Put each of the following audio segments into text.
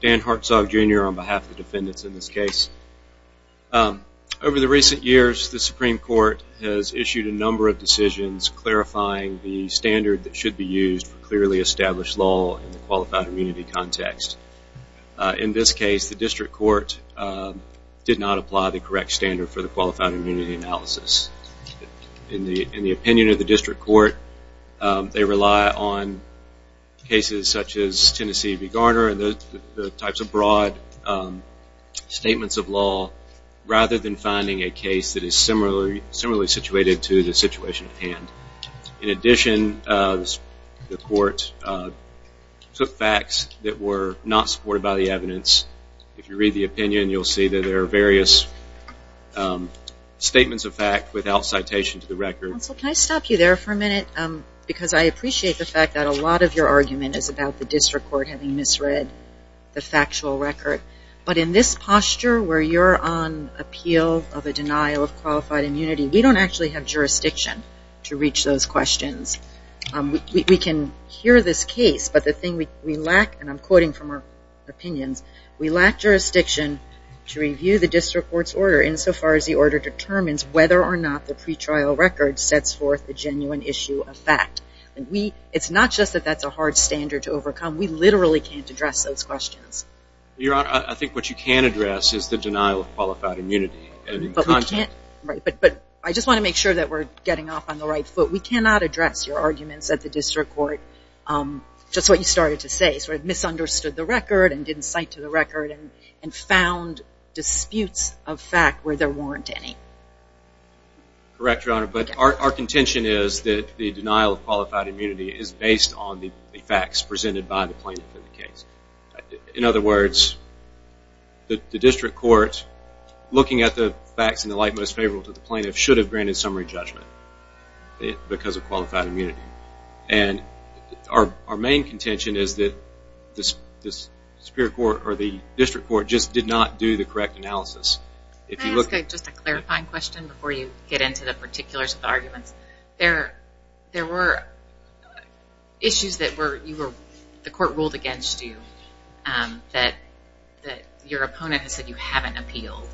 Dan Hartzog Jr. Over the recent years the Supreme Court has issued a number of decisions clarifying the In this case, the district court did not apply the correct standard for the qualified immunity analysis. In the opinion of the district court, they rely on cases such as Tennessee v. Garner and the types of broad statements of law rather than finding a case that is similarly situated to the situation at hand. In addition, the court took facts that were not supported by the evidence. If you read the opinion, you'll see that there are various statements of fact without citation to the record. Counsel, can I stop you there for a minute? Because I appreciate the fact that a lot of your argument is about the district court having misread the factual record. But in this posture where you're on appeal of a denial of qualified immunity, we don't actually have jurisdiction to reach those questions. We can hear this case, but the thing we lack, and I'm quoting from our opinions, we lack jurisdiction to review the district court's order insofar as the order determines whether or not the pretrial record sets forth the genuine issue of fact. It's not just that that's a hard standard to overcome. We literally can't address those questions. Your Honor, I think what you can address is the denial of qualified immunity. But I just want to make sure that we're getting off on the right foot. We cannot address your arguments that the district court, just what you started to say, sort of misunderstood the record and didn't cite to the record and found disputes of fact where there weren't any. Correct, Your Honor. But our contention is that the denial of qualified immunity is based on the facts presented by the plaintiff in the case. In other words, the facts in the light most favorable to the plaintiff should have granted summary judgment because of qualified immunity. And our main contention is that the district court just did not do the correct analysis. Can I ask just a clarifying question before you get into the particulars of the arguments? There were issues that the court ruled against you that your opponent has said you haven't appealed.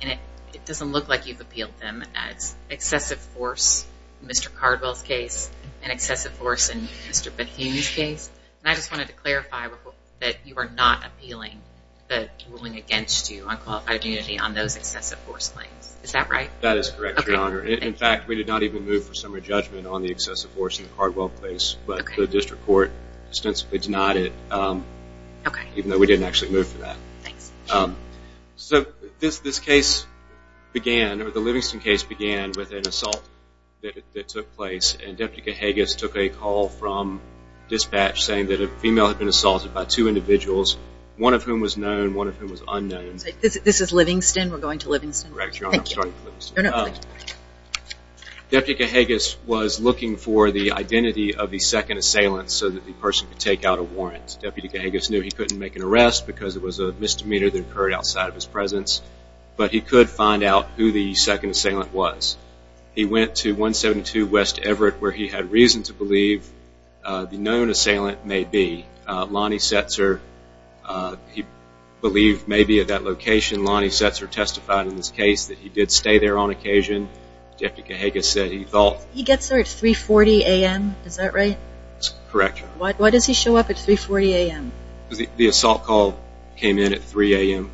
And it doesn't look like you've appealed them. It's excessive force in Mr. Cardwell's case and excessive force in Mr. Bethune's case. And I just wanted to clarify that you are not appealing the ruling against you on qualified immunity on those excessive force claims. Is that right? That is correct, Your Honor. In fact, we did not even move for summary judgment on the excessive force in the Cardwell case. But the district court extensively denied it, even though we didn't actually move for that. Thanks. So this case began, or the Livingston case began with an assault that took place. And Deputy Cahagas took a call from dispatch saying that a female had been assaulted by two individuals, one of whom was known, one of whom was unknown. This is Livingston? We're going to Livingston? Correct, Your Honor. I'll start in Livingston. Deputy Cahagas was looking for the identity of the second assailant so that the Deputy Cahagas knew he couldn't make an arrest because it was a misdemeanor that occurred outside of his presence. But he could find out who the second assailant was. He went to 172 West Everett where he had reason to believe the known assailant may be Lonnie Setzer. He believed maybe at that location Lonnie Setzer testified in this case that he did stay there on occasion. Deputy Cahagas said he thought... He gets there at 3.40 a.m. Is that right? Correct. Why does he show up at 3.40 a.m.? The assault call came in at 3 a.m.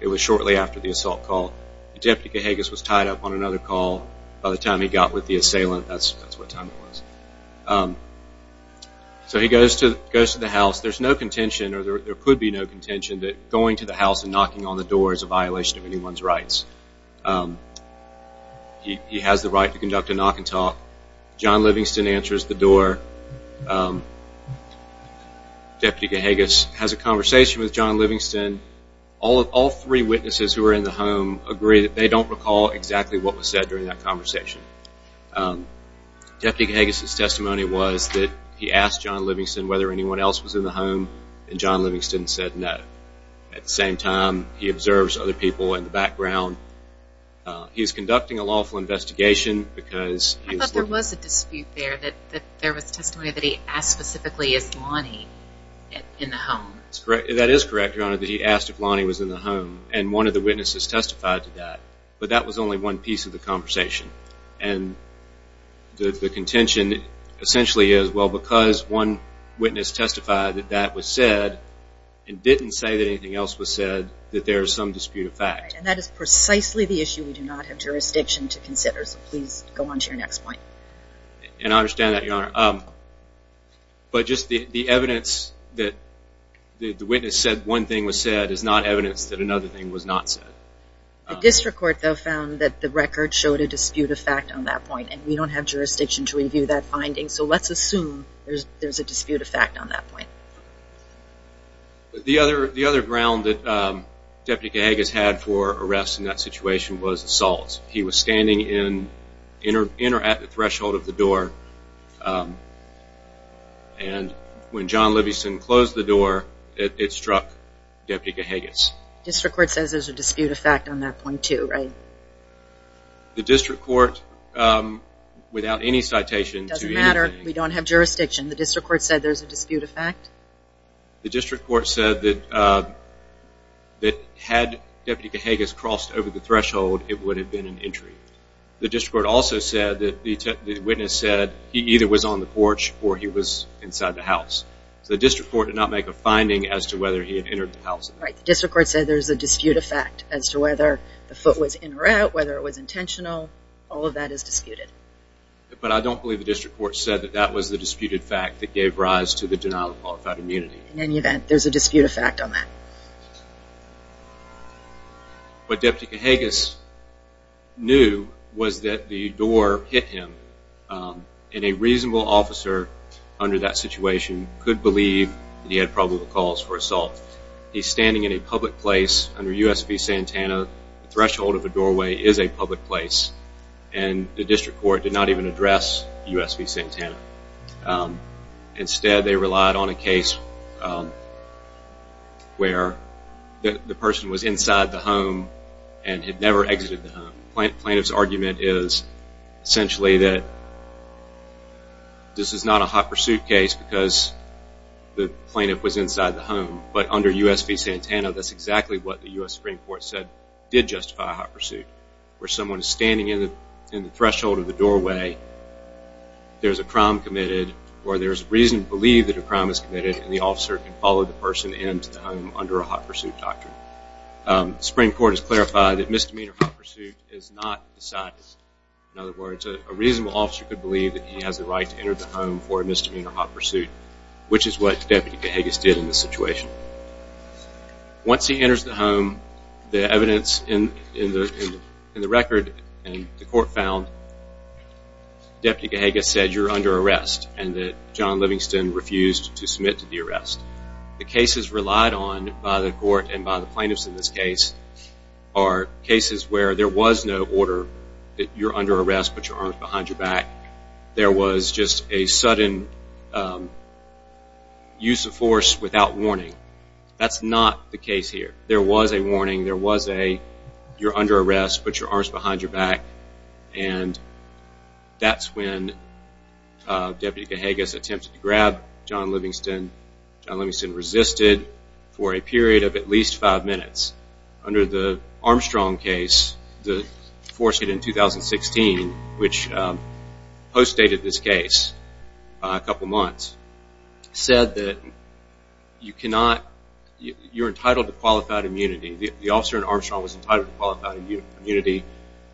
It was shortly after the assault call. Deputy Cahagas was tied up on another call by the time he got with the assailant. That's what time it was. So he goes to the house. There's no contention or there could be no contention that going to the house and knocking on the door is a violation of anyone's rights. He has the right to speak. Deputy Cahagas has a conversation with John Livingston. All three witnesses who were in the home agree that they don't recall exactly what was said during that conversation. Deputy Cahagas' testimony was that he asked John Livingston whether anyone else was in the home and John Livingston said no. At the same time, he observes other people in the background. He's conducting a lawful investigation because... There was a dispute there that there was testimony that he asked specifically if Lonnie was in the home. That is correct, Your Honor, that he asked if Lonnie was in the home and one of the witnesses testified to that, but that was only one piece of the conversation. And the contention essentially is, well, because one witness testified that that was said and didn't say that anything else was said, that there is some dispute of fact. And that is precisely the issue we do not have jurisdiction to consider, so please go on to your next point. And I understand that, Your Honor. But just the evidence that the witness said one thing was said is not evidence that another thing was not said. The district court, though, found that the record showed a dispute of fact on that point and we don't have jurisdiction to review that finding, so let's assume there's a dispute of fact on that point. The other ground that Deputy Cahagas had for arrest in that situation was assault. He was standing in or at the threshold of the door and when John Libison closed the door, it struck Deputy Cahagas. The district court says there's a dispute of fact on that point, too, right? The district court, without any citation to anything. It doesn't matter. We don't have jurisdiction. The district court said there's a dispute of fact? The district court said that had Deputy Cahagas crossed over the threshold, it would have been an injury. The district court also said that the witness said he either was on the porch or he was inside the house. The district court did not make a finding as to whether he had entered the house. Right. The district court said there's a dispute of fact as to whether the foot was in or out, whether it was intentional. All of that is disputed. But I don't believe the district court said that that was the disputed fact that gave rise to the denial of qualified immunity. In any event, there's a dispute of fact on that. What Deputy Cahagas knew was that the door hit him, and a reasonable officer under that situation could believe that he had probable cause for assault. He's standing in a public place under U.S. v. Santana. The threshold of the doorway is a public place, and the district court did not even address U.S. v. Santana. Instead, they relied on a case where the person was inside the home and had never exited the home. The plaintiff's argument is essentially that this is not a hot pursuit case because the plaintiff was inside the home. But under U.S. v. Santana, that's exactly what the U.S. Supreme Court said did justify a hot pursuit, where someone is standing in the threshold of the doorway. There's a crime committed, or there's reason to believe that a crime is committed, and the officer can follow the person into the home under a hot pursuit doctrine. The Supreme Court has clarified that misdemeanor hot pursuit is not decided. In other words, a reasonable officer could believe that he has the right to enter the home for a misdemeanor hot pursuit, which is what Deputy Cahagas did in this situation. Once he enters the home, the evidence in the record, and the court found Deputy Cahagas said you're under arrest and that John Livingston refused to submit to the arrest. The cases relied on by the court and by the plaintiffs in this case are cases where there was no order that you're under arrest, put your arms behind your back. There was just a sudden use of force without warning. That's not the case here. There was a warning. There was a you're under arrest, put your arms behind your back, and that's when Deputy Cahagas attempted to grab John Livingston. John Livingston resisted for a period of at least five minutes. Under the Armstrong case, the force hit in 2016, which postdated this case by a couple months, said that you're entitled to qualified immunity. The officer in Armstrong was entitled to qualified immunity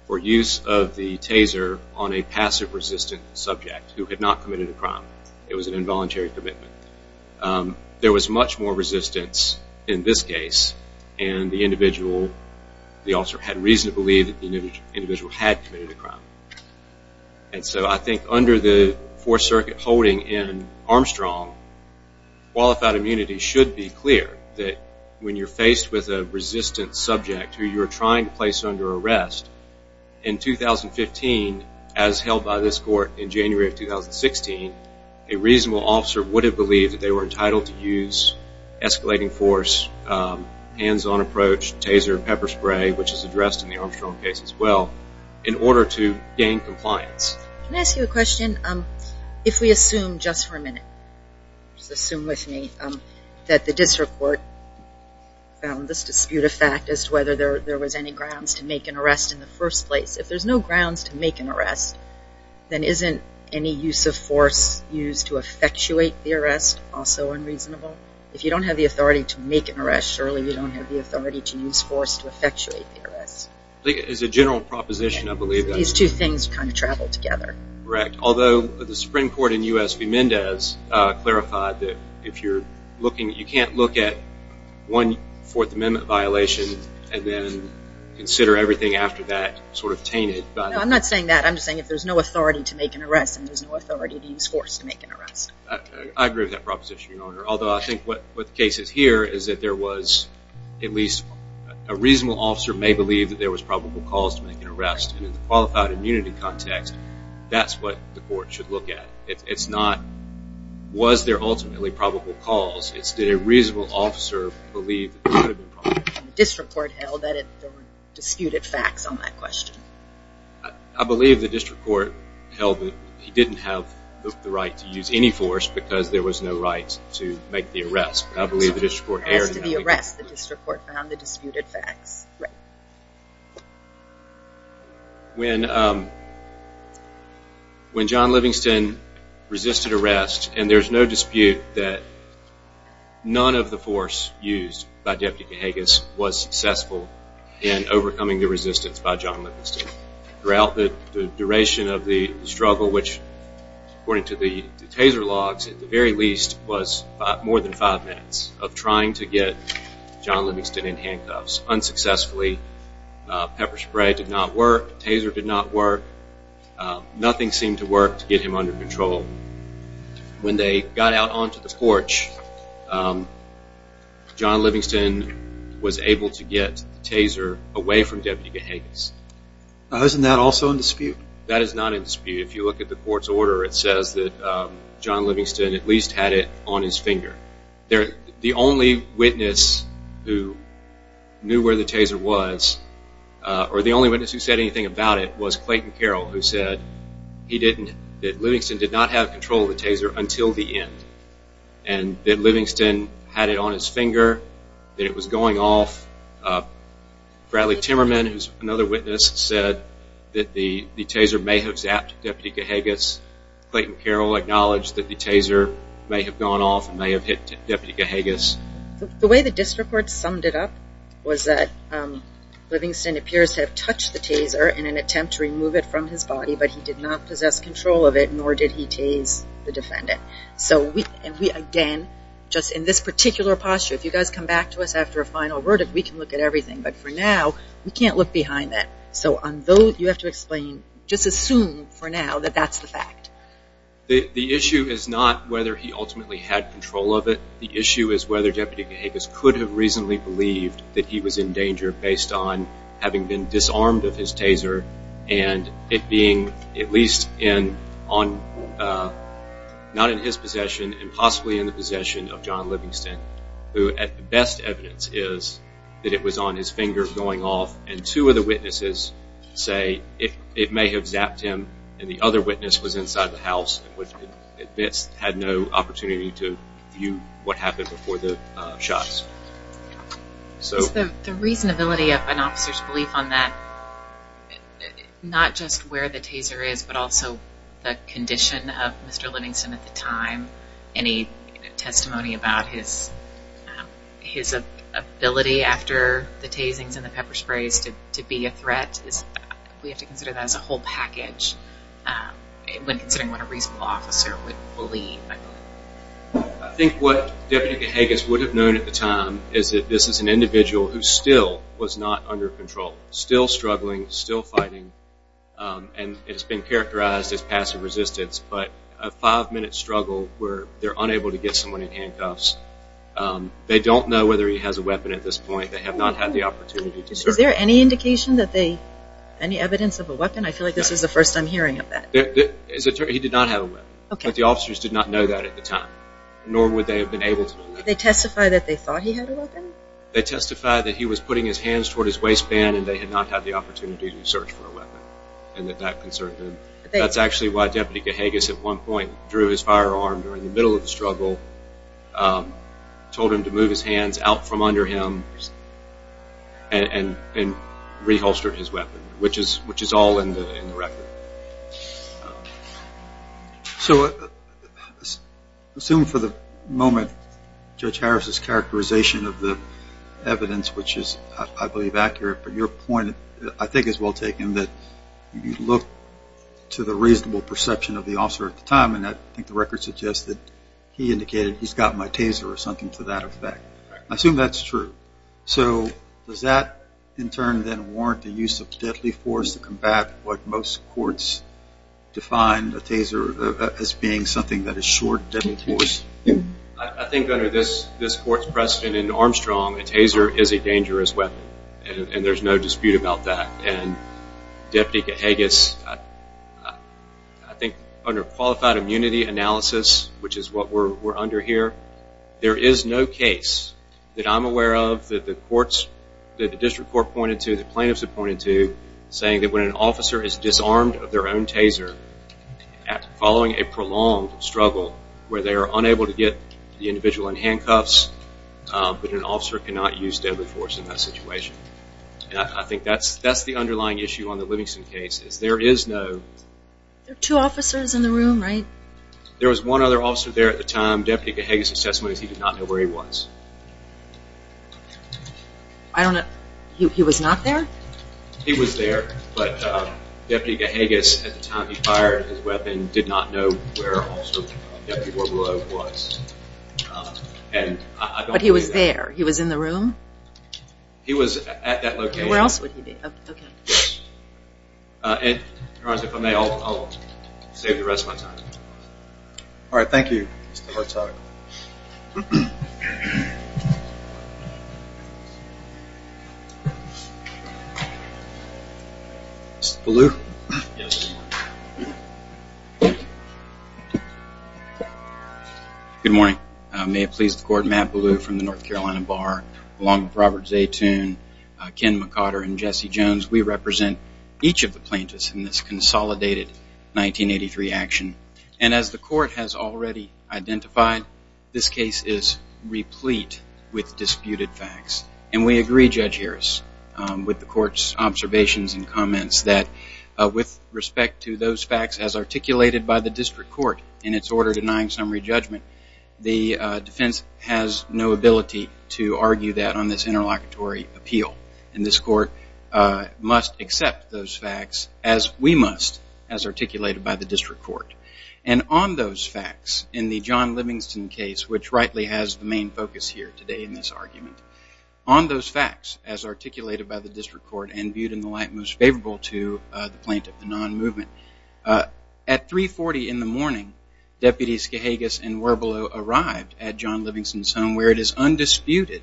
for use of the taser on a passive resistant subject who had not committed a crime. It was an involuntary commitment. There was much more resistance in this case, and the officer had reason to believe that the individual had committed a crime. And so I think under the Fourth Circuit holding in Armstrong, qualified immunity should be clear that when you're faced with a resistant subject who you're trying to place under arrest, in 2015, as held by this court in January of 2016, a reasonable officer would have believed that they were entitled to use escalating force, hands-on approach, taser, pepper spray, which is addressed in the Armstrong case as well, in order to gain compliance. Can I ask you a question? If we assume just for a minute, just assume with me, that the district court found this dispute a fact as to whether there was any grounds to make an arrest in the first place. If there's no grounds to make an arrest, then isn't any use of force used to effectuate the arrest also unreasonable? If you don't have the authority to make an arrest, surely you don't have the authority to use force to effectuate the arrest. It's a general proposition, I believe. These two things kind of travel together. Correct, although the Supreme Court in U.S. v. Mendez clarified that you can't look at one Fourth Amendment violation and then consider everything after that sort of tainted. No, I'm not saying that. I'm just saying if there's no authority to make an arrest, then there's no authority to use force to make an arrest. I agree with that proposition, Your Honor, although I think what the case is here is that there was at least a reasonable officer may believe that there was probable cause to make an arrest, and in the qualified immunity context, that's what the court should look at. It's not was there ultimately probable cause. It's did a reasonable officer believe that there could have been probable cause. The district court held that there were disputed facts on that question. I believe the district court held that he didn't have the right to use any force because there was no right to make the arrest. I believe the district court erred in that. As to the arrest, the district court found the disputed facts. Right. When John Livingston resisted arrest, and there's no dispute that none of the force used by Deputy Cahagas was successful in overcoming the resistance by John Livingston. Throughout the duration of the struggle, which according to the taser logs at the very least was more than five minutes of trying to get John Livingston in handcuffs. Unsuccessfully. Pepper spray did not work. Taser did not work. Nothing seemed to work to get him under control. When they got out onto the porch, John Livingston was able to get the taser away from Deputy Cahagas. Isn't that also in dispute? That is not in dispute. If you look at the court's order, it says that John Livingston at least had it on his finger. The only witness who knew where the taser was, or the only witness who said anything about it, was Clayton Carroll, who said that Livingston did not have control of the taser until the end, and that Livingston had it on his finger, that it was going off. Bradley Timmerman, who's another witness, said that the taser may have zapped Deputy Cahagas. Clayton Carroll acknowledged that the taser may have gone off and may have hit Deputy Cahagas. The way the district court summed it up was that Livingston appears to have touched the taser in an attempt to remove it from his body, but he did not possess control of it, nor did he tase the defendant. So we, again, just in this particular posture, if you guys come back to us after a final verdict, we can look at everything. But for now, we can't look behind that. So on those, you have to explain, just assume for now that that's the fact. The issue is not whether he ultimately had control of it. The issue is whether Deputy Cahagas could have reasonably believed that he was in danger based on having been disarmed of his taser and it being at least not in his possession and possibly in the possession of John Livingston, who the best evidence is that it was on his finger going off. And two of the witnesses say it may have zapped him and the other witness was inside the house and had no opportunity to view what happened before the shots. The reasonability of an officer's belief on that, not just where the taser is, but also the condition of Mr. Livingston at the time, any testimony about his ability after the tasings and the pepper sprays to be a threat, we have to consider that as a whole package when considering what a reasonable officer would believe. I think what Deputy Cahagas would have known at the time is that this is an individual who still was not under control, still struggling, still fighting, and it's been characterized as passive resistance. But a five-minute struggle where they're unable to get someone in handcuffs, they don't know whether he has a weapon at this point. They have not had the opportunity to search. Is there any indication that they, any evidence of a weapon? I feel like this is the first I'm hearing of that. He did not have a weapon. But the officers did not know that at the time, nor would they have been able to know that. Did they testify that they thought he had a weapon? They testified that he was putting his hands toward his waistband and they had not had the opportunity to search for a weapon and that that concerned them. That's actually why Deputy Cahagas at one point drew his firearm during the middle of the struggle, told him to move his hands out from under him, and reholstered his weapon, which is all in the record. So assume for the moment Judge Harris' characterization of the evidence, which is, I believe, accurate, but your point, I think, is well taken, that you look to the reasonable perception of the officer at the time, and I think the record suggests that he indicated he's got my taser or something to that effect. I assume that's true. So does that, in turn, then warrant the use of deadly force to combat what most courts define a taser as being something that is short, deadly force? I think under this court's precedent in Armstrong, a taser is a dangerous weapon, and there's no dispute about that. And Deputy Cahagas, I think under qualified immunity analysis, which is what we're under here, there is no case that I'm aware of that the courts, that the district court pointed to, the plaintiffs have pointed to, saying that when an officer is disarmed of their own taser following a prolonged struggle where they are unable to get the individual in handcuffs, that an officer cannot use deadly force in that situation. And I think that's the underlying issue on the Livingston case, is there is no... There are two officers in the room, right? There was one other officer there at the time. Deputy Cahagas' assessment is he did not know where he was. He was not there? He was there, but Deputy Cahagas, at the time he fired his weapon, did not know where Deputy Warblow was. But he was there? He was in the room? He was at that location. Where else would he be? If I may, I'll save the rest of my time. All right, thank you, Mr. Hartog. Mr. Ballew? Yes. Good morning. May it please the Court, Matt Ballew from the North Carolina Bar, along with Robert Zaytoon, Ken McOtter, and Jesse Jones, we represent each of the plaintiffs in this consolidated 1983 action. And as the Court has already identified, this case is replete with disputed facts. And we agree, Judge Harris, with the Court's observations and comments, that with respect to those facts as articulated by the district court in its order denying summary judgment, the defense has no ability to argue that on this interlocutory appeal. And this Court must accept those facts as we must, as articulated by the district court. And on those facts, in the John Livingston case, which rightly has the main focus here today in this argument, on those facts as articulated by the district court and viewed in the light most favorable to the plaintiff, the non-movement, at 3.40 in the morning Deputy Skahagas and Warblow arrived at John Livingston's home where it is undisputed.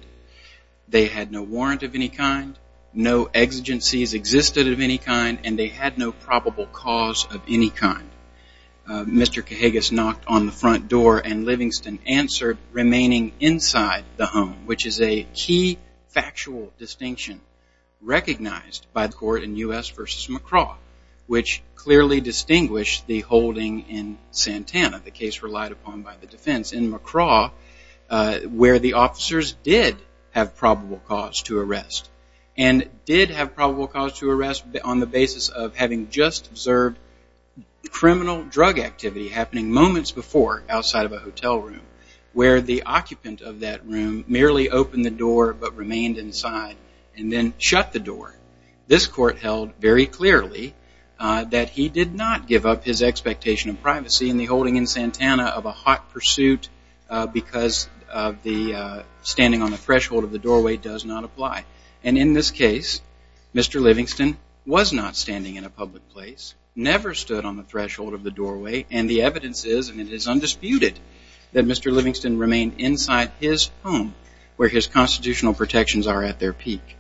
They had no warrant of any kind, no exigencies existed of any kind, and they had no probable cause of any kind. Mr. Skahagas knocked on the front door and Livingston answered, remaining inside the home, which is a key factual distinction recognized by the Court in U.S. v. McCraw, which clearly distinguished the holding in Santana, the case relied upon by the defense in McCraw, where the officers did have probable cause to arrest and did have probable cause to arrest on the basis of having just observed criminal drug activity happening moments before outside of a hotel room where the occupant of that room merely opened the door but remained inside and then shut the door. This Court held very clearly that he did not give up his expectation of privacy in the holding in Santana of a hot pursuit because standing on the threshold of the doorway does not apply. And in this case, Mr. Livingston was not standing in a public place, never stood on the threshold of the doorway, and the evidence is, and it is undisputed, that Mr. Livingston remained inside his home where his constitutional protections are at their peak.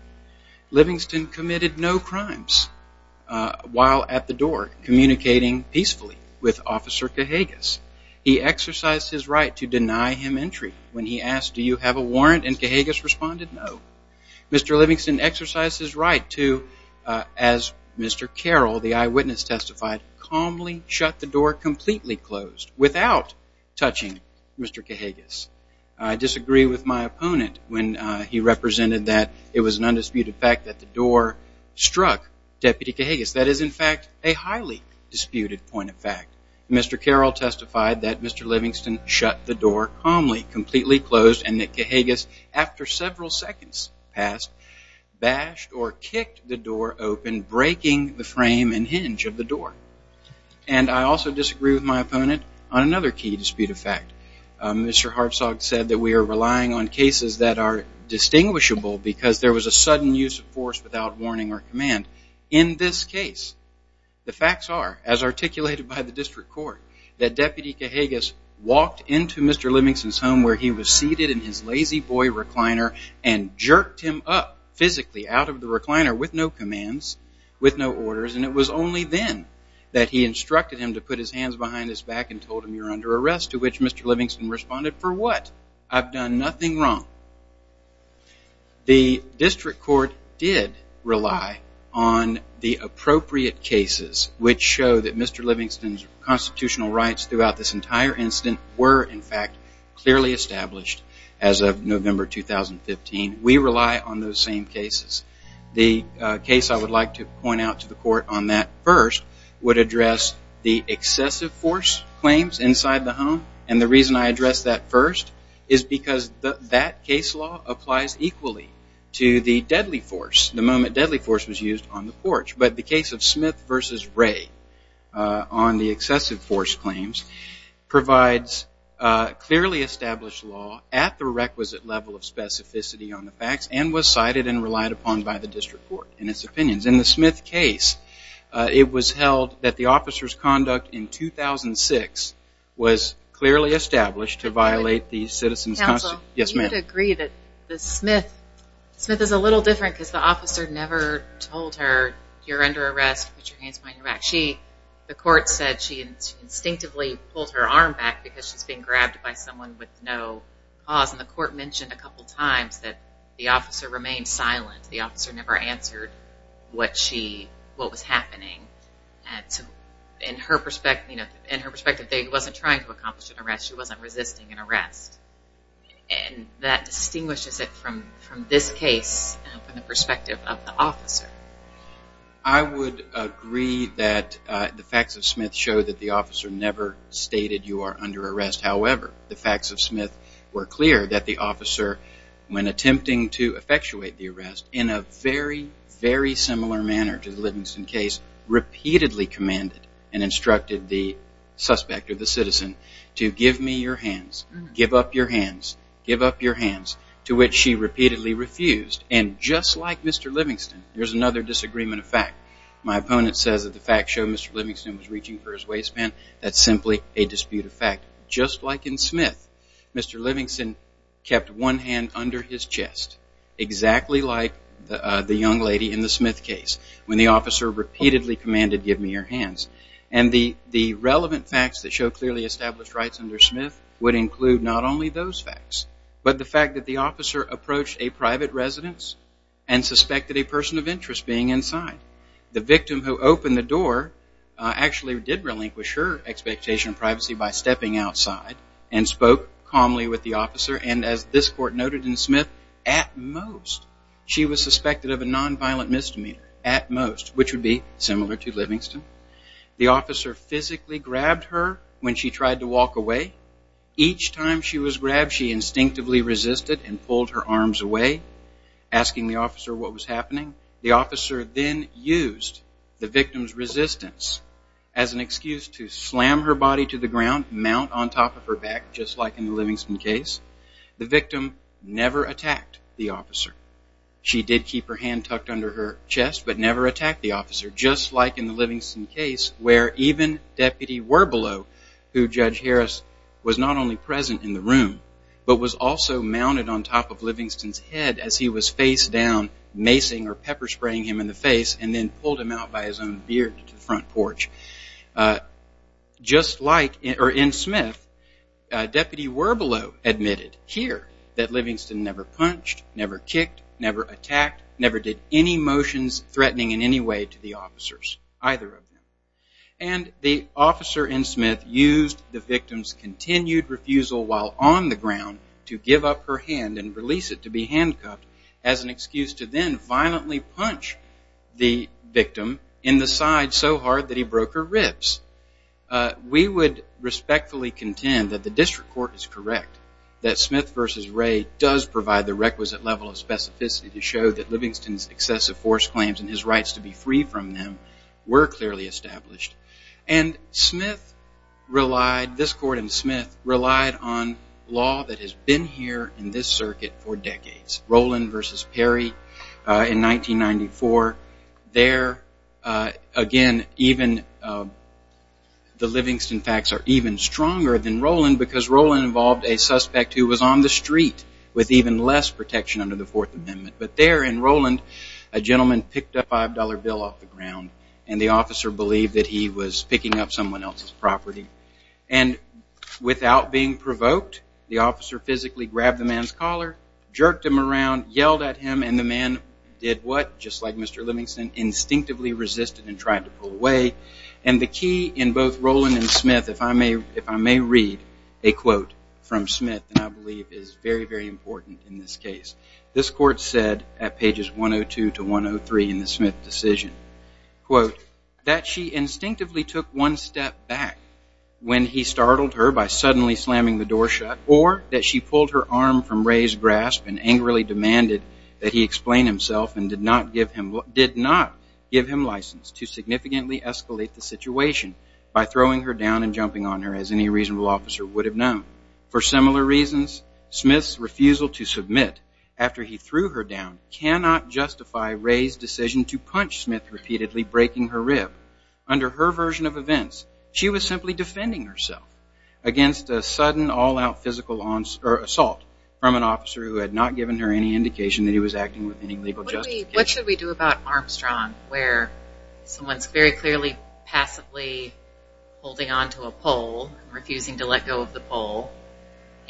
Livingston committed no crimes while at the door, communicating peacefully with Officer Cahagas. He exercised his right to deny him entry when he asked, do you have a warrant, and Cahagas responded no. Mr. Livingston exercised his right to, as Mr. Carroll, the eyewitness, testified, calmly shut the door completely closed without touching Mr. Cahagas. I disagree with my opponent when he represented that it was an undisputed fact that the door struck Deputy Cahagas. That is, in fact, a highly disputed point of fact. Mr. Carroll testified that Mr. Livingston shut the door calmly, completely closed, and that Cahagas, after several seconds passed, bashed or kicked the door open, breaking the frame and hinge of the door. And I also disagree with my opponent on another key dispute of fact. Mr. Hartsog said that we are relying on cases that are distinguishable because there was a sudden use of force without warning or command. In this case, the facts are, as articulated by the district court, that Deputy Cahagas walked into Mr. Livingston's home where he was seated in his lazy boy recliner and jerked him up physically out of the recliner with no commands, with no orders. And it was only then that he instructed him to put his hands behind his back and told him you're under arrest, to which Mr. Livingston responded, for what? I've done nothing wrong. The district court did rely on the appropriate cases which show that Mr. Livingston's constitutional rights throughout this entire incident were, in fact, clearly established as of November 2015. We rely on those same cases. The case I would like to point out to the court on that first would address the excessive force claims inside the home. And the reason I address that first is because that case law applies equally to the deadly force, the moment deadly force was used on the porch. But the case of Smith v. Ray on the excessive force claims provides clearly established law at the requisite level of specificity on the facts and was cited and relied upon by the district court in its opinions. In the Smith case, it was held that the officer's conduct in 2006 was clearly established to violate the citizens' constitutional rights. Counsel? Yes, ma'am. Do you agree that the Smith, Smith is a little different because the officer never told her, you're under arrest, put your hands behind your back. She, the court said she instinctively pulled her arm back because she's being grabbed by someone with no cause. And the court mentioned a couple times that the officer remained silent. The officer never answered what she, what was happening. In her perspective, she wasn't trying to accomplish an arrest. She wasn't resisting an arrest. And that distinguishes it from this case from the perspective of the officer. I would agree that the facts of Smith show that the officer never stated you are under arrest. However, the facts of Smith were clear that the officer, when attempting to effectuate the arrest in a very, very similar manner to the Livingston case, repeatedly commanded and instructed the suspect or the citizen to give me your hands, give up your hands, give up your hands, to which she repeatedly refused. And just like Mr. Livingston, there's another disagreement of fact. My opponent says that the facts show Mr. Livingston was reaching for his waistband. That's simply a dispute of fact. Just like in Smith, Mr. Livingston kept one hand under his chest, exactly like the young lady in the Smith case, when the officer repeatedly commanded give me your hands. And the relevant facts that show clearly established rights under Smith would include not only those facts, but the fact that the officer approached a private residence and suspected a person of interest being inside. The victim who opened the door actually did relinquish her expectation of privacy by stepping outside and spoke calmly with the officer. And as this court noted in Smith, at most, she was suspected of a nonviolent misdemeanor, at most, which would be similar to Livingston. The officer physically grabbed her when she tried to walk away. Each time she was grabbed, she instinctively resisted and pulled her arms away, asking the officer what was happening. The officer then used the victim's resistance as an excuse to slam her body to the ground, mount on top of her back, just like in the Livingston case. The victim never attacked the officer. She did keep her hand tucked under her chest, but never attacked the officer, just like in the Livingston case where even Deputy Werbelow, who Judge Harris was not only present in the room, but was also mounted on top of Livingston's head as he was face down, macing or pepper spraying him in the face, and then pulled him out by his own beard to the front porch. Just like in Smith, Deputy Werbelow admitted here that Livingston never punched, never kicked, never attacked, never did any motions threatening in any way to the officers, either of them. And the officer in Smith used the victim's continued refusal while on the ground to give up her hand and release it to be handcuffed as an excuse to then violently punch the victim in the side so hard that he broke her ribs. We would respectfully contend that the district court is correct, that Smith v. Ray does provide the requisite level of specificity to show that Livingston's excessive force claims and his rights to be free from them were clearly established. And Smith relied, this court in Smith, relied on law that has been here in this circuit for decades. Roland v. Perry in 1994. There, again, even the Livingston facts are even stronger than Roland because Roland involved a suspect who was on the street with even less protection under the Fourth Amendment. But there in Roland, a gentleman picked a $5 bill off the ground and the officer believed that he was picking up someone else's property. The officer jerked him around, yelled at him, and the man did what? Just like Mr. Livingston, instinctively resisted and tried to pull away. And the key in both Roland and Smith, if I may read a quote from Smith that I believe is very, very important in this case. This court said at pages 102 to 103 in the Smith decision, that she instinctively took one step back when he startled her by suddenly slamming the door shut or that she pulled her arm from Ray's grasp and angrily demanded that he explain himself and did not give him license to significantly escalate the situation by throwing her down and jumping on her, as any reasonable officer would have known. For similar reasons, Smith's refusal to submit after he threw her down cannot justify Ray's decision to punch Smith repeatedly, breaking her rib. Under her version of events, she was simply defending herself against a sudden, all-out physical assault from an officer who had not given her any indication that he was acting with any legal justification. What should we do about Armstrong, where someone is very clearly passively holding on to a pole and refusing to let go of the pole,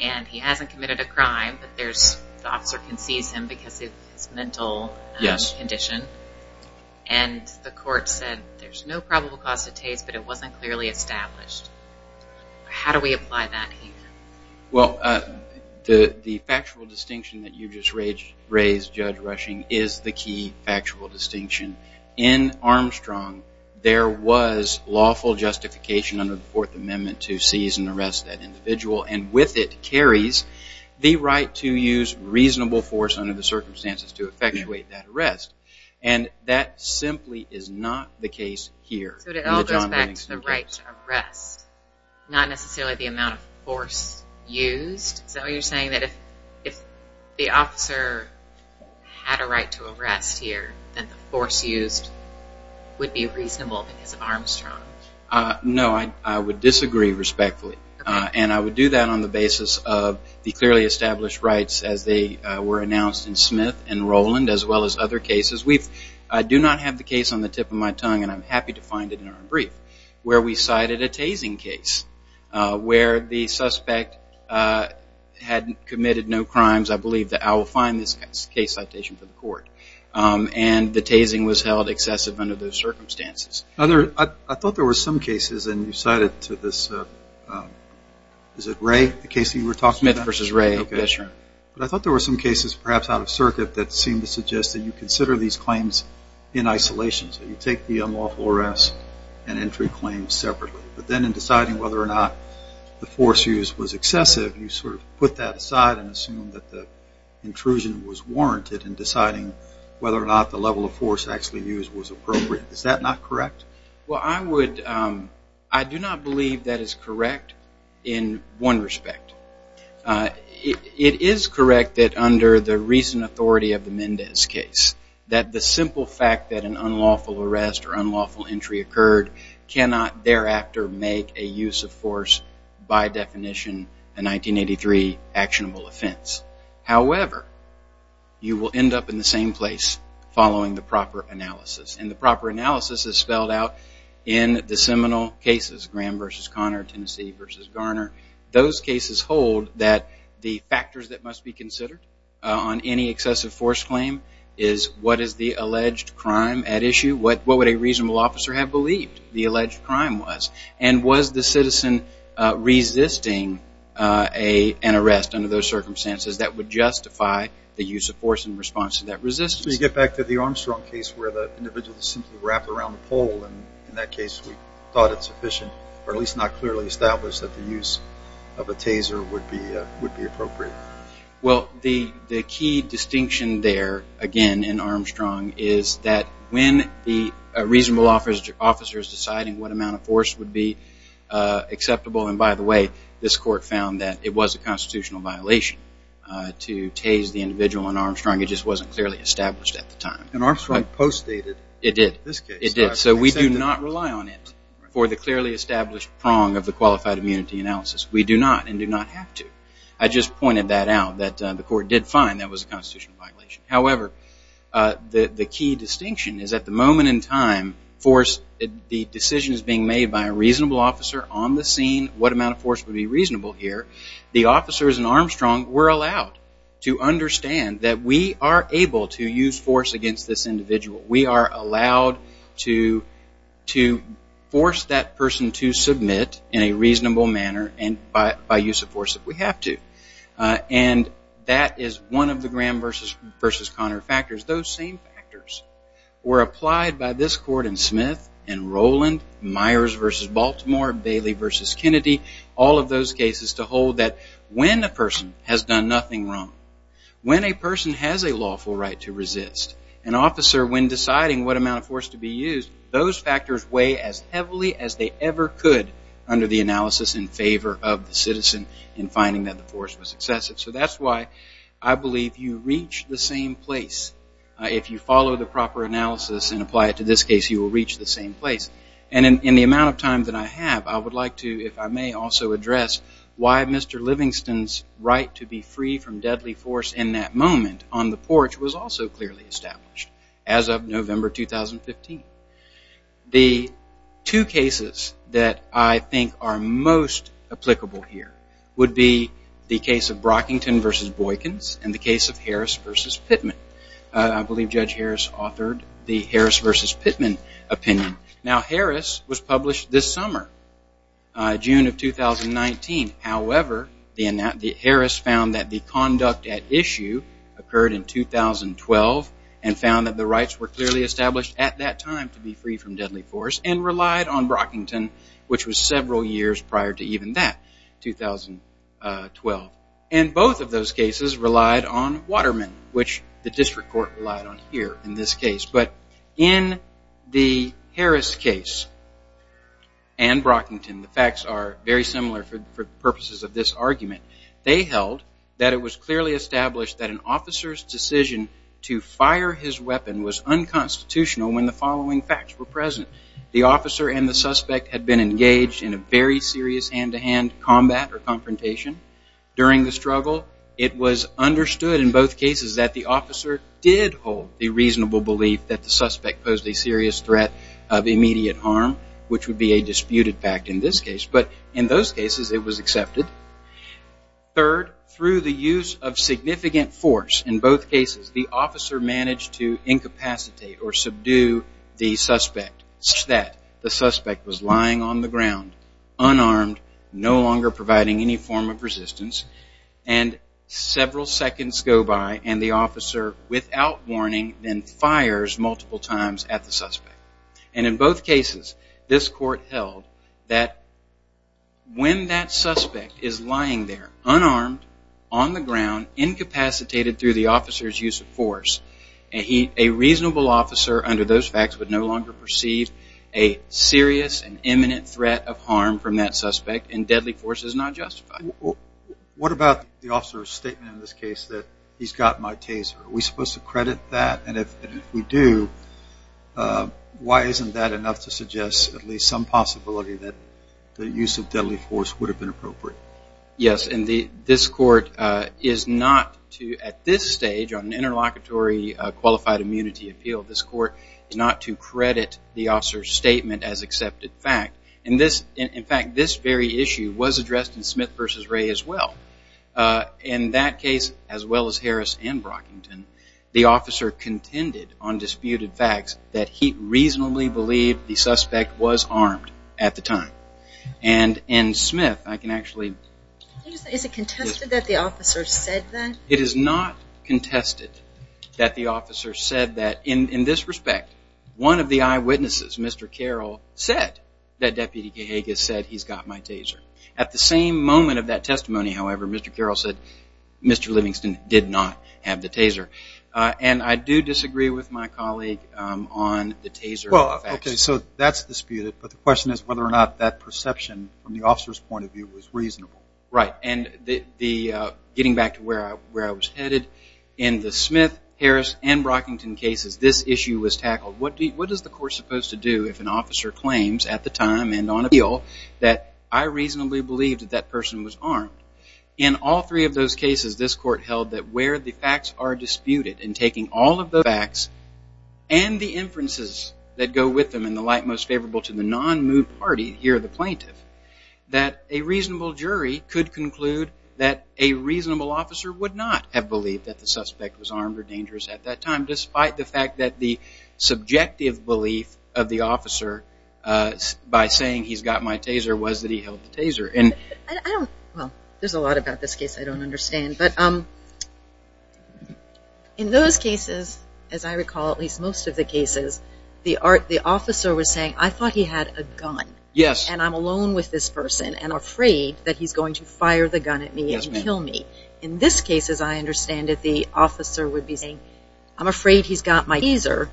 and he hasn't committed a crime, but the officer can seize him because of his mental condition? Yes. And the court said there's no probable cause to tase, but it wasn't clearly established. How do we apply that here? Well, the factual distinction that you just raised, Judge Rushing, is the key factual distinction. In Armstrong, there was lawful justification under the Fourth Amendment to seize and arrest that individual, and with it carries the right to use reasonable force under the circumstances to effectuate that arrest. And that simply is not the case here. So it all goes back to the right to arrest, not necessarily the amount of force used? So you're saying that if the officer had a right to arrest here, then the force used would be reasonable because of Armstrong? No, I would disagree respectfully, and I would do that on the basis of the clearly established rights as they were announced in Smith and Rowland, as well as other cases. We do not have the case on the tip of my tongue, and I'm happy to find it in our brief, where we cited a tasing case where the suspect had committed no crimes. I believe that I will find this case citation for the court, and the tasing was held excessive under those circumstances. I thought there were some cases, and you cited to this, is it Ray, the case that you were talking about? Smith v. Ray, yes, sir. But I thought there were some cases, perhaps out of circuit, that seemed to suggest that you consider these claims in isolation, so you take the unlawful arrest and entry claims separately. But then in deciding whether or not the force used was excessive, you sort of put that aside and assumed that the intrusion was warranted in deciding whether or not the level of force actually used was appropriate. Is that not correct? Well, I do not believe that is correct in one respect. It is correct that under the recent authority of the Mendez case, that the simple fact that an unlawful arrest or unlawful entry occurred cannot thereafter make a use of force, by definition, a 1983 actionable offense. However, you will end up in the same place following the proper analysis, and the proper analysis is spelled out in the seminal cases, Graham v. Conner, Tennessee v. Garner. Those cases hold that the factors that must be considered on any excessive force claim is what is the alleged crime at issue, what would a reasonable officer have believed the alleged crime was, and was the citizen resisting an arrest under those circumstances that would justify the use of force in response to that resistance. To get back to the Armstrong case, where the individual is simply wrapped around the pole, and in that case we thought it sufficient, or at least not clearly established, that the use of a taser would be appropriate. Well, the key distinction there, again, in Armstrong, is that when the reasonable officer is deciding what amount of force would be acceptable, and by the way, this court found that it was a constitutional violation to tase the individual in Armstrong, it just wasn't clearly established at the time. And Armstrong post-stated in this case. It did. So we do not rely on it for the clearly established prong of the qualified immunity analysis. We do not, and do not have to. I just pointed that out, that the court did find that was a constitutional violation. However, the key distinction is at the moment in time, the decision is being made by a reasonable officer on the scene, what amount of force would be reasonable here. The officers in Armstrong were allowed to understand that we are able to use force against this individual. We are allowed to force that person to submit in a reasonable manner, and by use of force if we have to. And that is one of the Graham versus Connor factors. Those same factors were applied by this court in Smith, in Roland, Myers versus Baltimore, Bailey versus Kennedy, all of those cases to hold that when a person has done nothing wrong, when a person has a lawful right to resist, an officer when deciding what amount of force to be used, those factors weigh as heavily as they ever could under the analysis in favor of the citizen in finding that the force was excessive. So that's why I believe you reach the same place if you follow the proper analysis and apply it to this case, you will reach the same place. And in the amount of time that I have, I would like to, if I may, also address why Mr. Livingston's right to be free from deadly force in that of November 2015. The two cases that I think are most applicable here would be the case of Brockington versus Boykins and the case of Harris versus Pittman. I believe Judge Harris authored the Harris versus Pittman opinion. Now, Harris was published this summer, June of 2019. However, Harris found that the conduct at issue occurred in 2012, and found that the rights were clearly established at that time to be free from deadly force and relied on Brockington, which was several years prior to even that, 2012. And both of those cases relied on Waterman, which the district court relied on here in this case. But in the Harris case and Brockington, the facts are very similar for purposes of this argument. They held that it was clearly established that an officer's decision to fire his weapon was unconstitutional when the following facts were present. The officer and the suspect had been engaged in a very serious hand-to-hand combat or confrontation during the struggle. It was understood in both cases that the officer did hold the reasonable belief that the suspect posed a serious threat of immediate harm, which would be a disputed fact in this case. But in those cases, it was accepted. Third, through the use of significant force in both cases, the officer managed to incapacitate or subdue the suspect such that the suspect was lying on the ground, unarmed, no longer providing any form of resistance, and several seconds go by and the officer, without warning, then fires multiple times at the suspect. And in both cases, this court held that when that suspect is lying there, unarmed, on the ground, incapacitated through the officer's use of force, a reasonable officer under those facts would no longer perceive a serious and imminent threat of harm from that suspect, and deadly force is not justified. What about the officer's statement in this case that he's got my taser? Are we supposed to credit that? And if we do, why isn't that enough to suggest at least some possibility that the use of deadly force would have been appropriate? Yes, and this court is not to, at this stage, on an interlocutory qualified immunity appeal, this court is not to credit the officer's statement as accepted fact. In fact, this very issue was addressed in Smith v. Ray as well. In that case, as well as Harris and Brockington, the officer contended on disputed facts that he reasonably believed the suspect was armed at the time. And in Smith, I can actually... Is it contested that the officer said that? It is not contested that the officer said that. In this respect, one of the eyewitnesses, Mr. Carroll, said that Deputy Cahagas said, he's got my taser. At the same moment of that testimony, however, Mr. Carroll said, Mr. Livingston did not have the taser. And I do disagree with my colleague on the taser facts. Okay, so that's disputed. But the question is whether or not that perception, from the officer's point of view, was reasonable. Right. And getting back to where I was headed, in the Smith, Harris, and Brockington cases, this issue was tackled. What is the court supposed to do if an officer claims at the time and on appeal that I reasonably believed that that person was armed? In all three of those cases, this court held that where the facts are disputed, and taking all of the facts and the inferences that go with them in the light most favorable to the non-moot party, here the plaintiff, that a reasonable jury could conclude that a reasonable officer would not have believed that the suspect was armed or dangerous at that time, despite the fact that the subjective belief of the officer, by saying he's got my taser, was that he held the taser. Well, there's a lot about this case I don't understand. But in those cases, as I recall, at least most of the cases, the officer was saying, I thought he had a gun. Yes. And I'm alone with this person, and I'm afraid that he's going to fire the gun at me and kill me. Yes, ma'am. In this case, as I understand it, the officer would be saying, I'm afraid he's got my taser,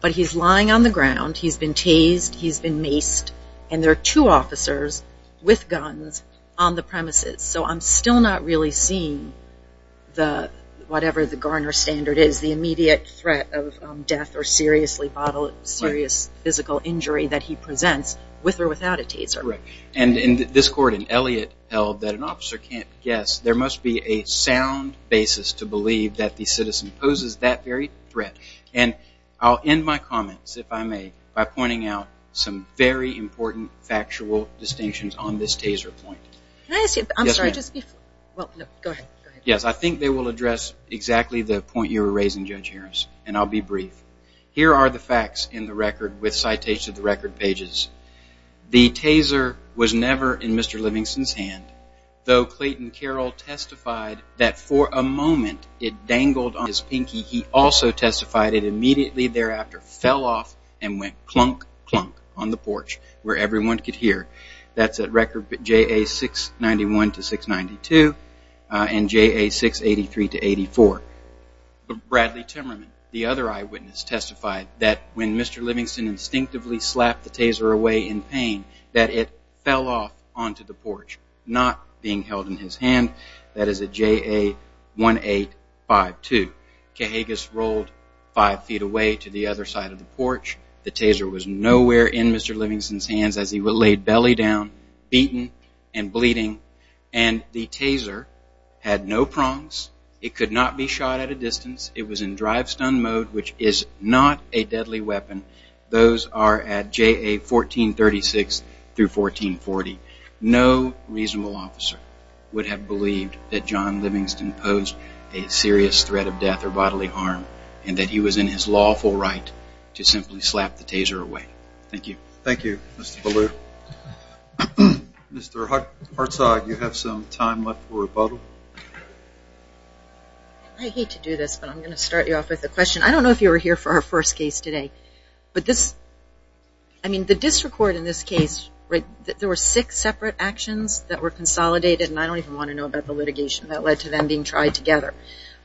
but he's lying on the ground, he's been tased, he's been maced, and there are two officers with guns on the premises. So I'm still not really seeing the, whatever the Garner standard is, the immediate threat of death or serious physical injury that he presents with or without a taser. Correct. And this court in Elliott held that an officer can't guess. There must be a sound basis to believe that the citizen poses that very threat. And I'll end my comments, if I may, by pointing out some very important factual distinctions on this taser point. Can I ask you a question? Yes, ma'am. Well, go ahead. Yes, I think they will address exactly the point you were raising, Judge Harris, and I'll be brief. Here are the facts in the record with citation of the record pages. The taser was never in Mr. Livingston's hand, though Clayton Carroll testified that for a moment it dangled on his pinky. He also testified it immediately thereafter fell off and went clunk, clunk, on the porch where everyone could hear. That's at record JA691-692 and JA683-84. Bradley Timmerman, the other eyewitness, testified that when Mr. Livingston instinctively slapped the taser away in pain that it fell off onto the porch, not being held in his hand. That is at JA1852. Cahagas rolled five feet away to the other side of the porch. The taser was nowhere in Mr. Livingston's hands as he was laid belly down, beaten and bleeding, and the taser had no prongs. It could not be shot at a distance. It was in drive-stun mode, which is not a deadly weapon. Those are at JA1436-1440. No reasonable officer would have believed that John Livingston posed a serious threat of death or bodily harm and that he was in his lawful right to simply slap the taser away. Thank you. Thank you, Mr. Ballew. Mr. Hartzog, you have some time left for rebuttal. I hate to do this, but I'm going to start you off with a question. I don't know if you were here for our first case today. I mean, the district court in this case, there were six separate actions that were consolidated, and I don't even want to know about the litigation that led to them being tried together.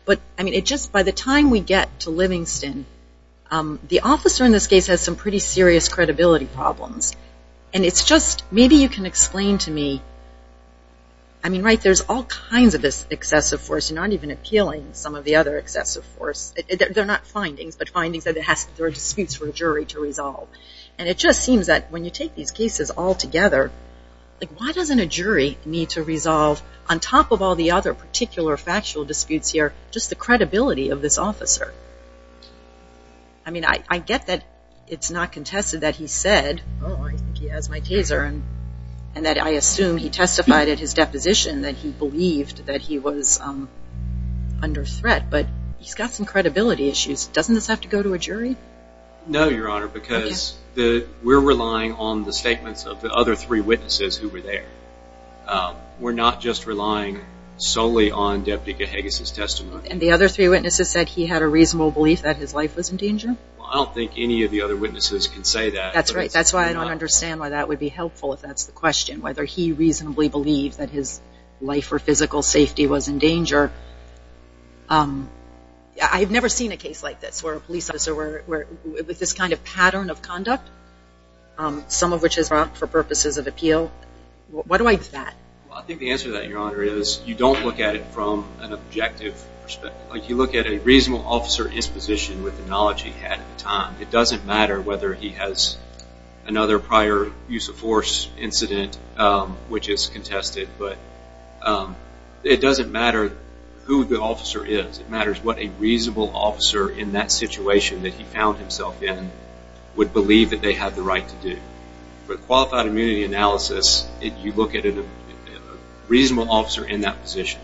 But, I mean, just by the time we get to Livingston, the officer in this case has some pretty serious credibility problems. And it's just maybe you can explain to me, I mean, right, there's all kinds of this excessive force. You're not even appealing some of the other excessive force. They're not findings, but findings that there are disputes for a jury to resolve. And it just seems that when you take these cases all together, like why doesn't a jury need to resolve, on top of all the other particular factual disputes here, just the credibility of this officer? I mean, I get that it's not contested that he said, oh, I think he has my taser, and that I assume he testified at his deposition that he believed that he was under threat, but he's got some credibility issues. Doesn't this have to go to a jury? No, Your Honor, because we're relying on the statements of the other three witnesses who were there. We're not just relying solely on Deputy Cahagas' testimony. And the other three witnesses said he had a reasonable belief that his life was in danger? I don't think any of the other witnesses can say that. That's right. That's why I don't understand why that would be helpful if that's the question, whether he reasonably believed that his life or physical safety was in danger. I've never seen a case like this where a police officer with this kind of pattern of conduct, some of which is not for purposes of appeal. Why do I do that? I think the answer to that, Your Honor, is you don't look at it from an objective perspective. You look at a reasonable officer's disposition with the knowledge he had at the time. It doesn't matter whether he has another prior use of force incident, which is contested, but it doesn't matter who the officer is. It matters what a reasonable officer in that situation that he found himself in would believe that they had the right to do. With qualified immunity analysis, you look at a reasonable officer in that position.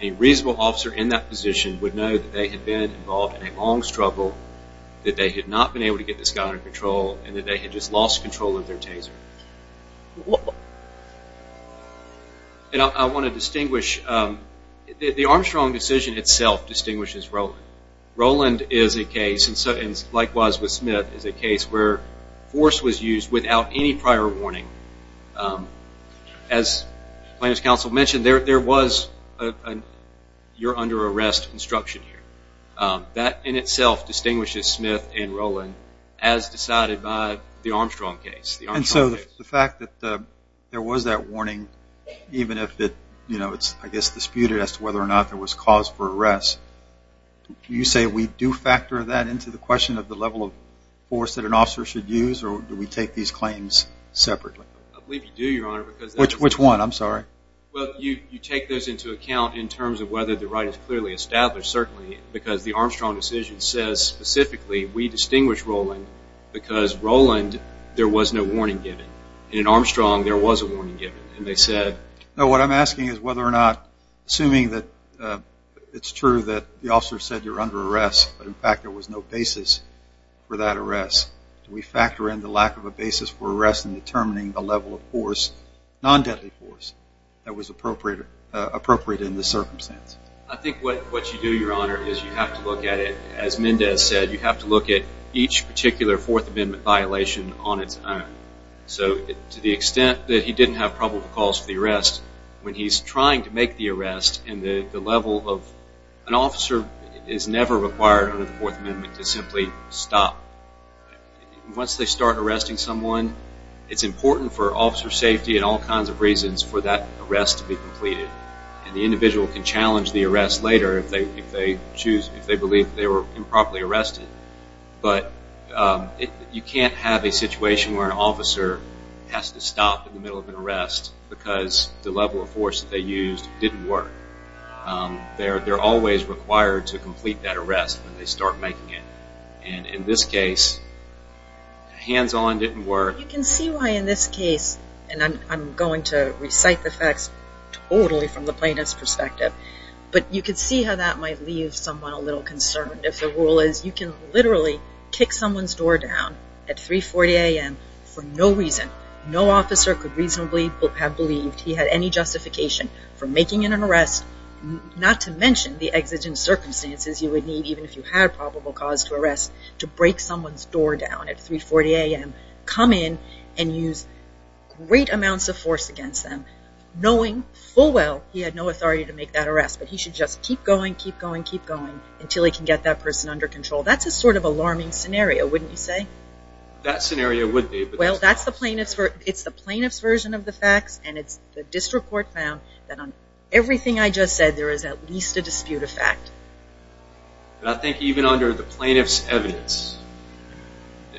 A reasonable officer in that position would know that they had been involved in a long struggle, that they had not been able to get this guy under control, and that they had just lost control of their taser. I want to distinguish. The Armstrong decision itself distinguishes Rowland. Rowland is a case, and likewise with Smith, is a case where force was used without any prior warning. As plaintiff's counsel mentioned, there was a you're under arrest instruction here. That in itself distinguishes Smith and Rowland as decided by the Armstrong case. And so the fact that there was that warning, even if it's disputed as to whether or not there was cause for arrest, do you say we do factor that into the question of the level of force that an officer should use, or do we take these claims separately? I believe you do, Your Honor. Which one? I'm sorry. Well, you take those into account in terms of whether the right is clearly established, certainly, because the Armstrong decision says specifically we distinguish Rowland because Rowland there was no warning given, and in Armstrong there was a warning given. No, what I'm asking is whether or not, assuming that it's true that the officer said you're under arrest, but in fact there was no basis for that arrest, do we factor in the lack of a basis for arrest in determining the level of force, non-deadly force, that was appropriate in this circumstance? I think what you do, Your Honor, is you have to look at it, as Mendez said, you have to look at each particular Fourth Amendment violation on its own. So to the extent that he didn't have probable cause for the arrest, when he's trying to make the arrest and the level of an officer is never required under the Fourth Amendment to simply stop. Once they start arresting someone, it's important for officer safety and all kinds of reasons for that arrest to be completed, and the individual can challenge the arrest later but you can't have a situation where an officer has to stop in the middle of an arrest because the level of force that they used didn't work. They're always required to complete that arrest when they start making it, and in this case, hands-on didn't work. You can see why in this case, and I'm going to recite the facts totally from the plaintiff's perspective, but you can see how that might leave someone a little concerned if the rule is you can literally kick someone's door down at 3.40 a.m. for no reason. No officer could reasonably have believed he had any justification for making an arrest, not to mention the exigent circumstances you would need even if you had probable cause to arrest to break someone's door down at 3.40 a.m., come in and use great amounts of force against them knowing full well he had no authority to make that arrest, but he should just keep going, keep going, keep going until he can get that person under control. That's a sort of alarming scenario, wouldn't you say? That scenario would be. Well, it's the plaintiff's version of the facts, and it's the district court found that on everything I just said, there is at least a dispute of fact. I think even under the plaintiff's evidence,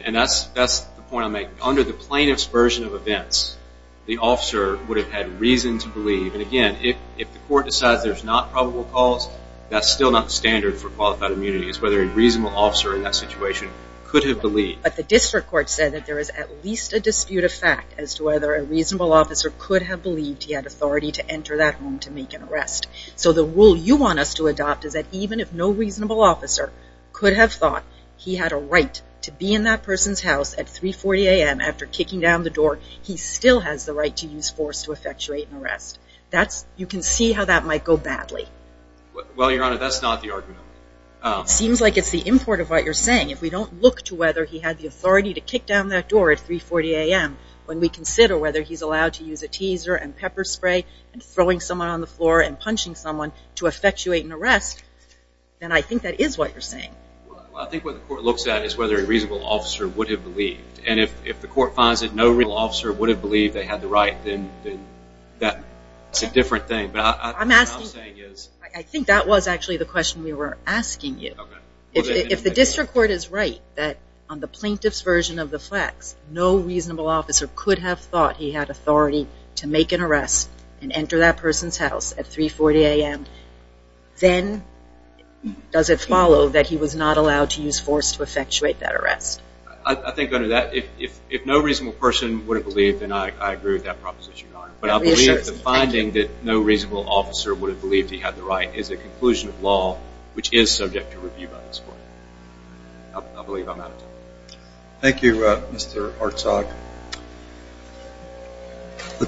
and that's the point I'm making, under the plaintiff's version of events, the officer would have had reason to believe, and again, if the court decides there's not probable cause, that's still not standard for qualified immunity. It's whether a reasonable officer in that situation could have believed. But the district court said that there is at least a dispute of fact as to whether a reasonable officer could have believed he had authority to enter that home to make an arrest. So the rule you want us to adopt is that even if no reasonable officer could have thought he had a right to be in that person's house at 3.40 a.m. after kicking down the door, you can see how that might go badly. Well, Your Honor, that's not the argument. It seems like it's the import of what you're saying. If we don't look to whether he had the authority to kick down that door at 3.40 a.m. when we consider whether he's allowed to use a teaser and pepper spray and throwing someone on the floor and punching someone to effectuate an arrest, then I think that is what you're saying. Well, I think what the court looks at is whether a reasonable officer would have believed, and if the court finds that no reasonable officer would have believed they had the right, then that's a different thing. But what I'm saying is... I think that was actually the question we were asking you. If the district court is right that on the plaintiff's version of the flex, no reasonable officer could have thought he had authority to make an arrest and enter that person's house at 3.40 a.m., then does it follow that he was not allowed to use force to effectuate that arrest? I think under that, if no reasonable person would have believed, then I agree with that proposition, Your Honor. But I believe the finding that no reasonable officer would have believed he had the right is a conclusion of law which is subject to review by this court. I believe I'm out of time. Thank you, Mr. Hartzog.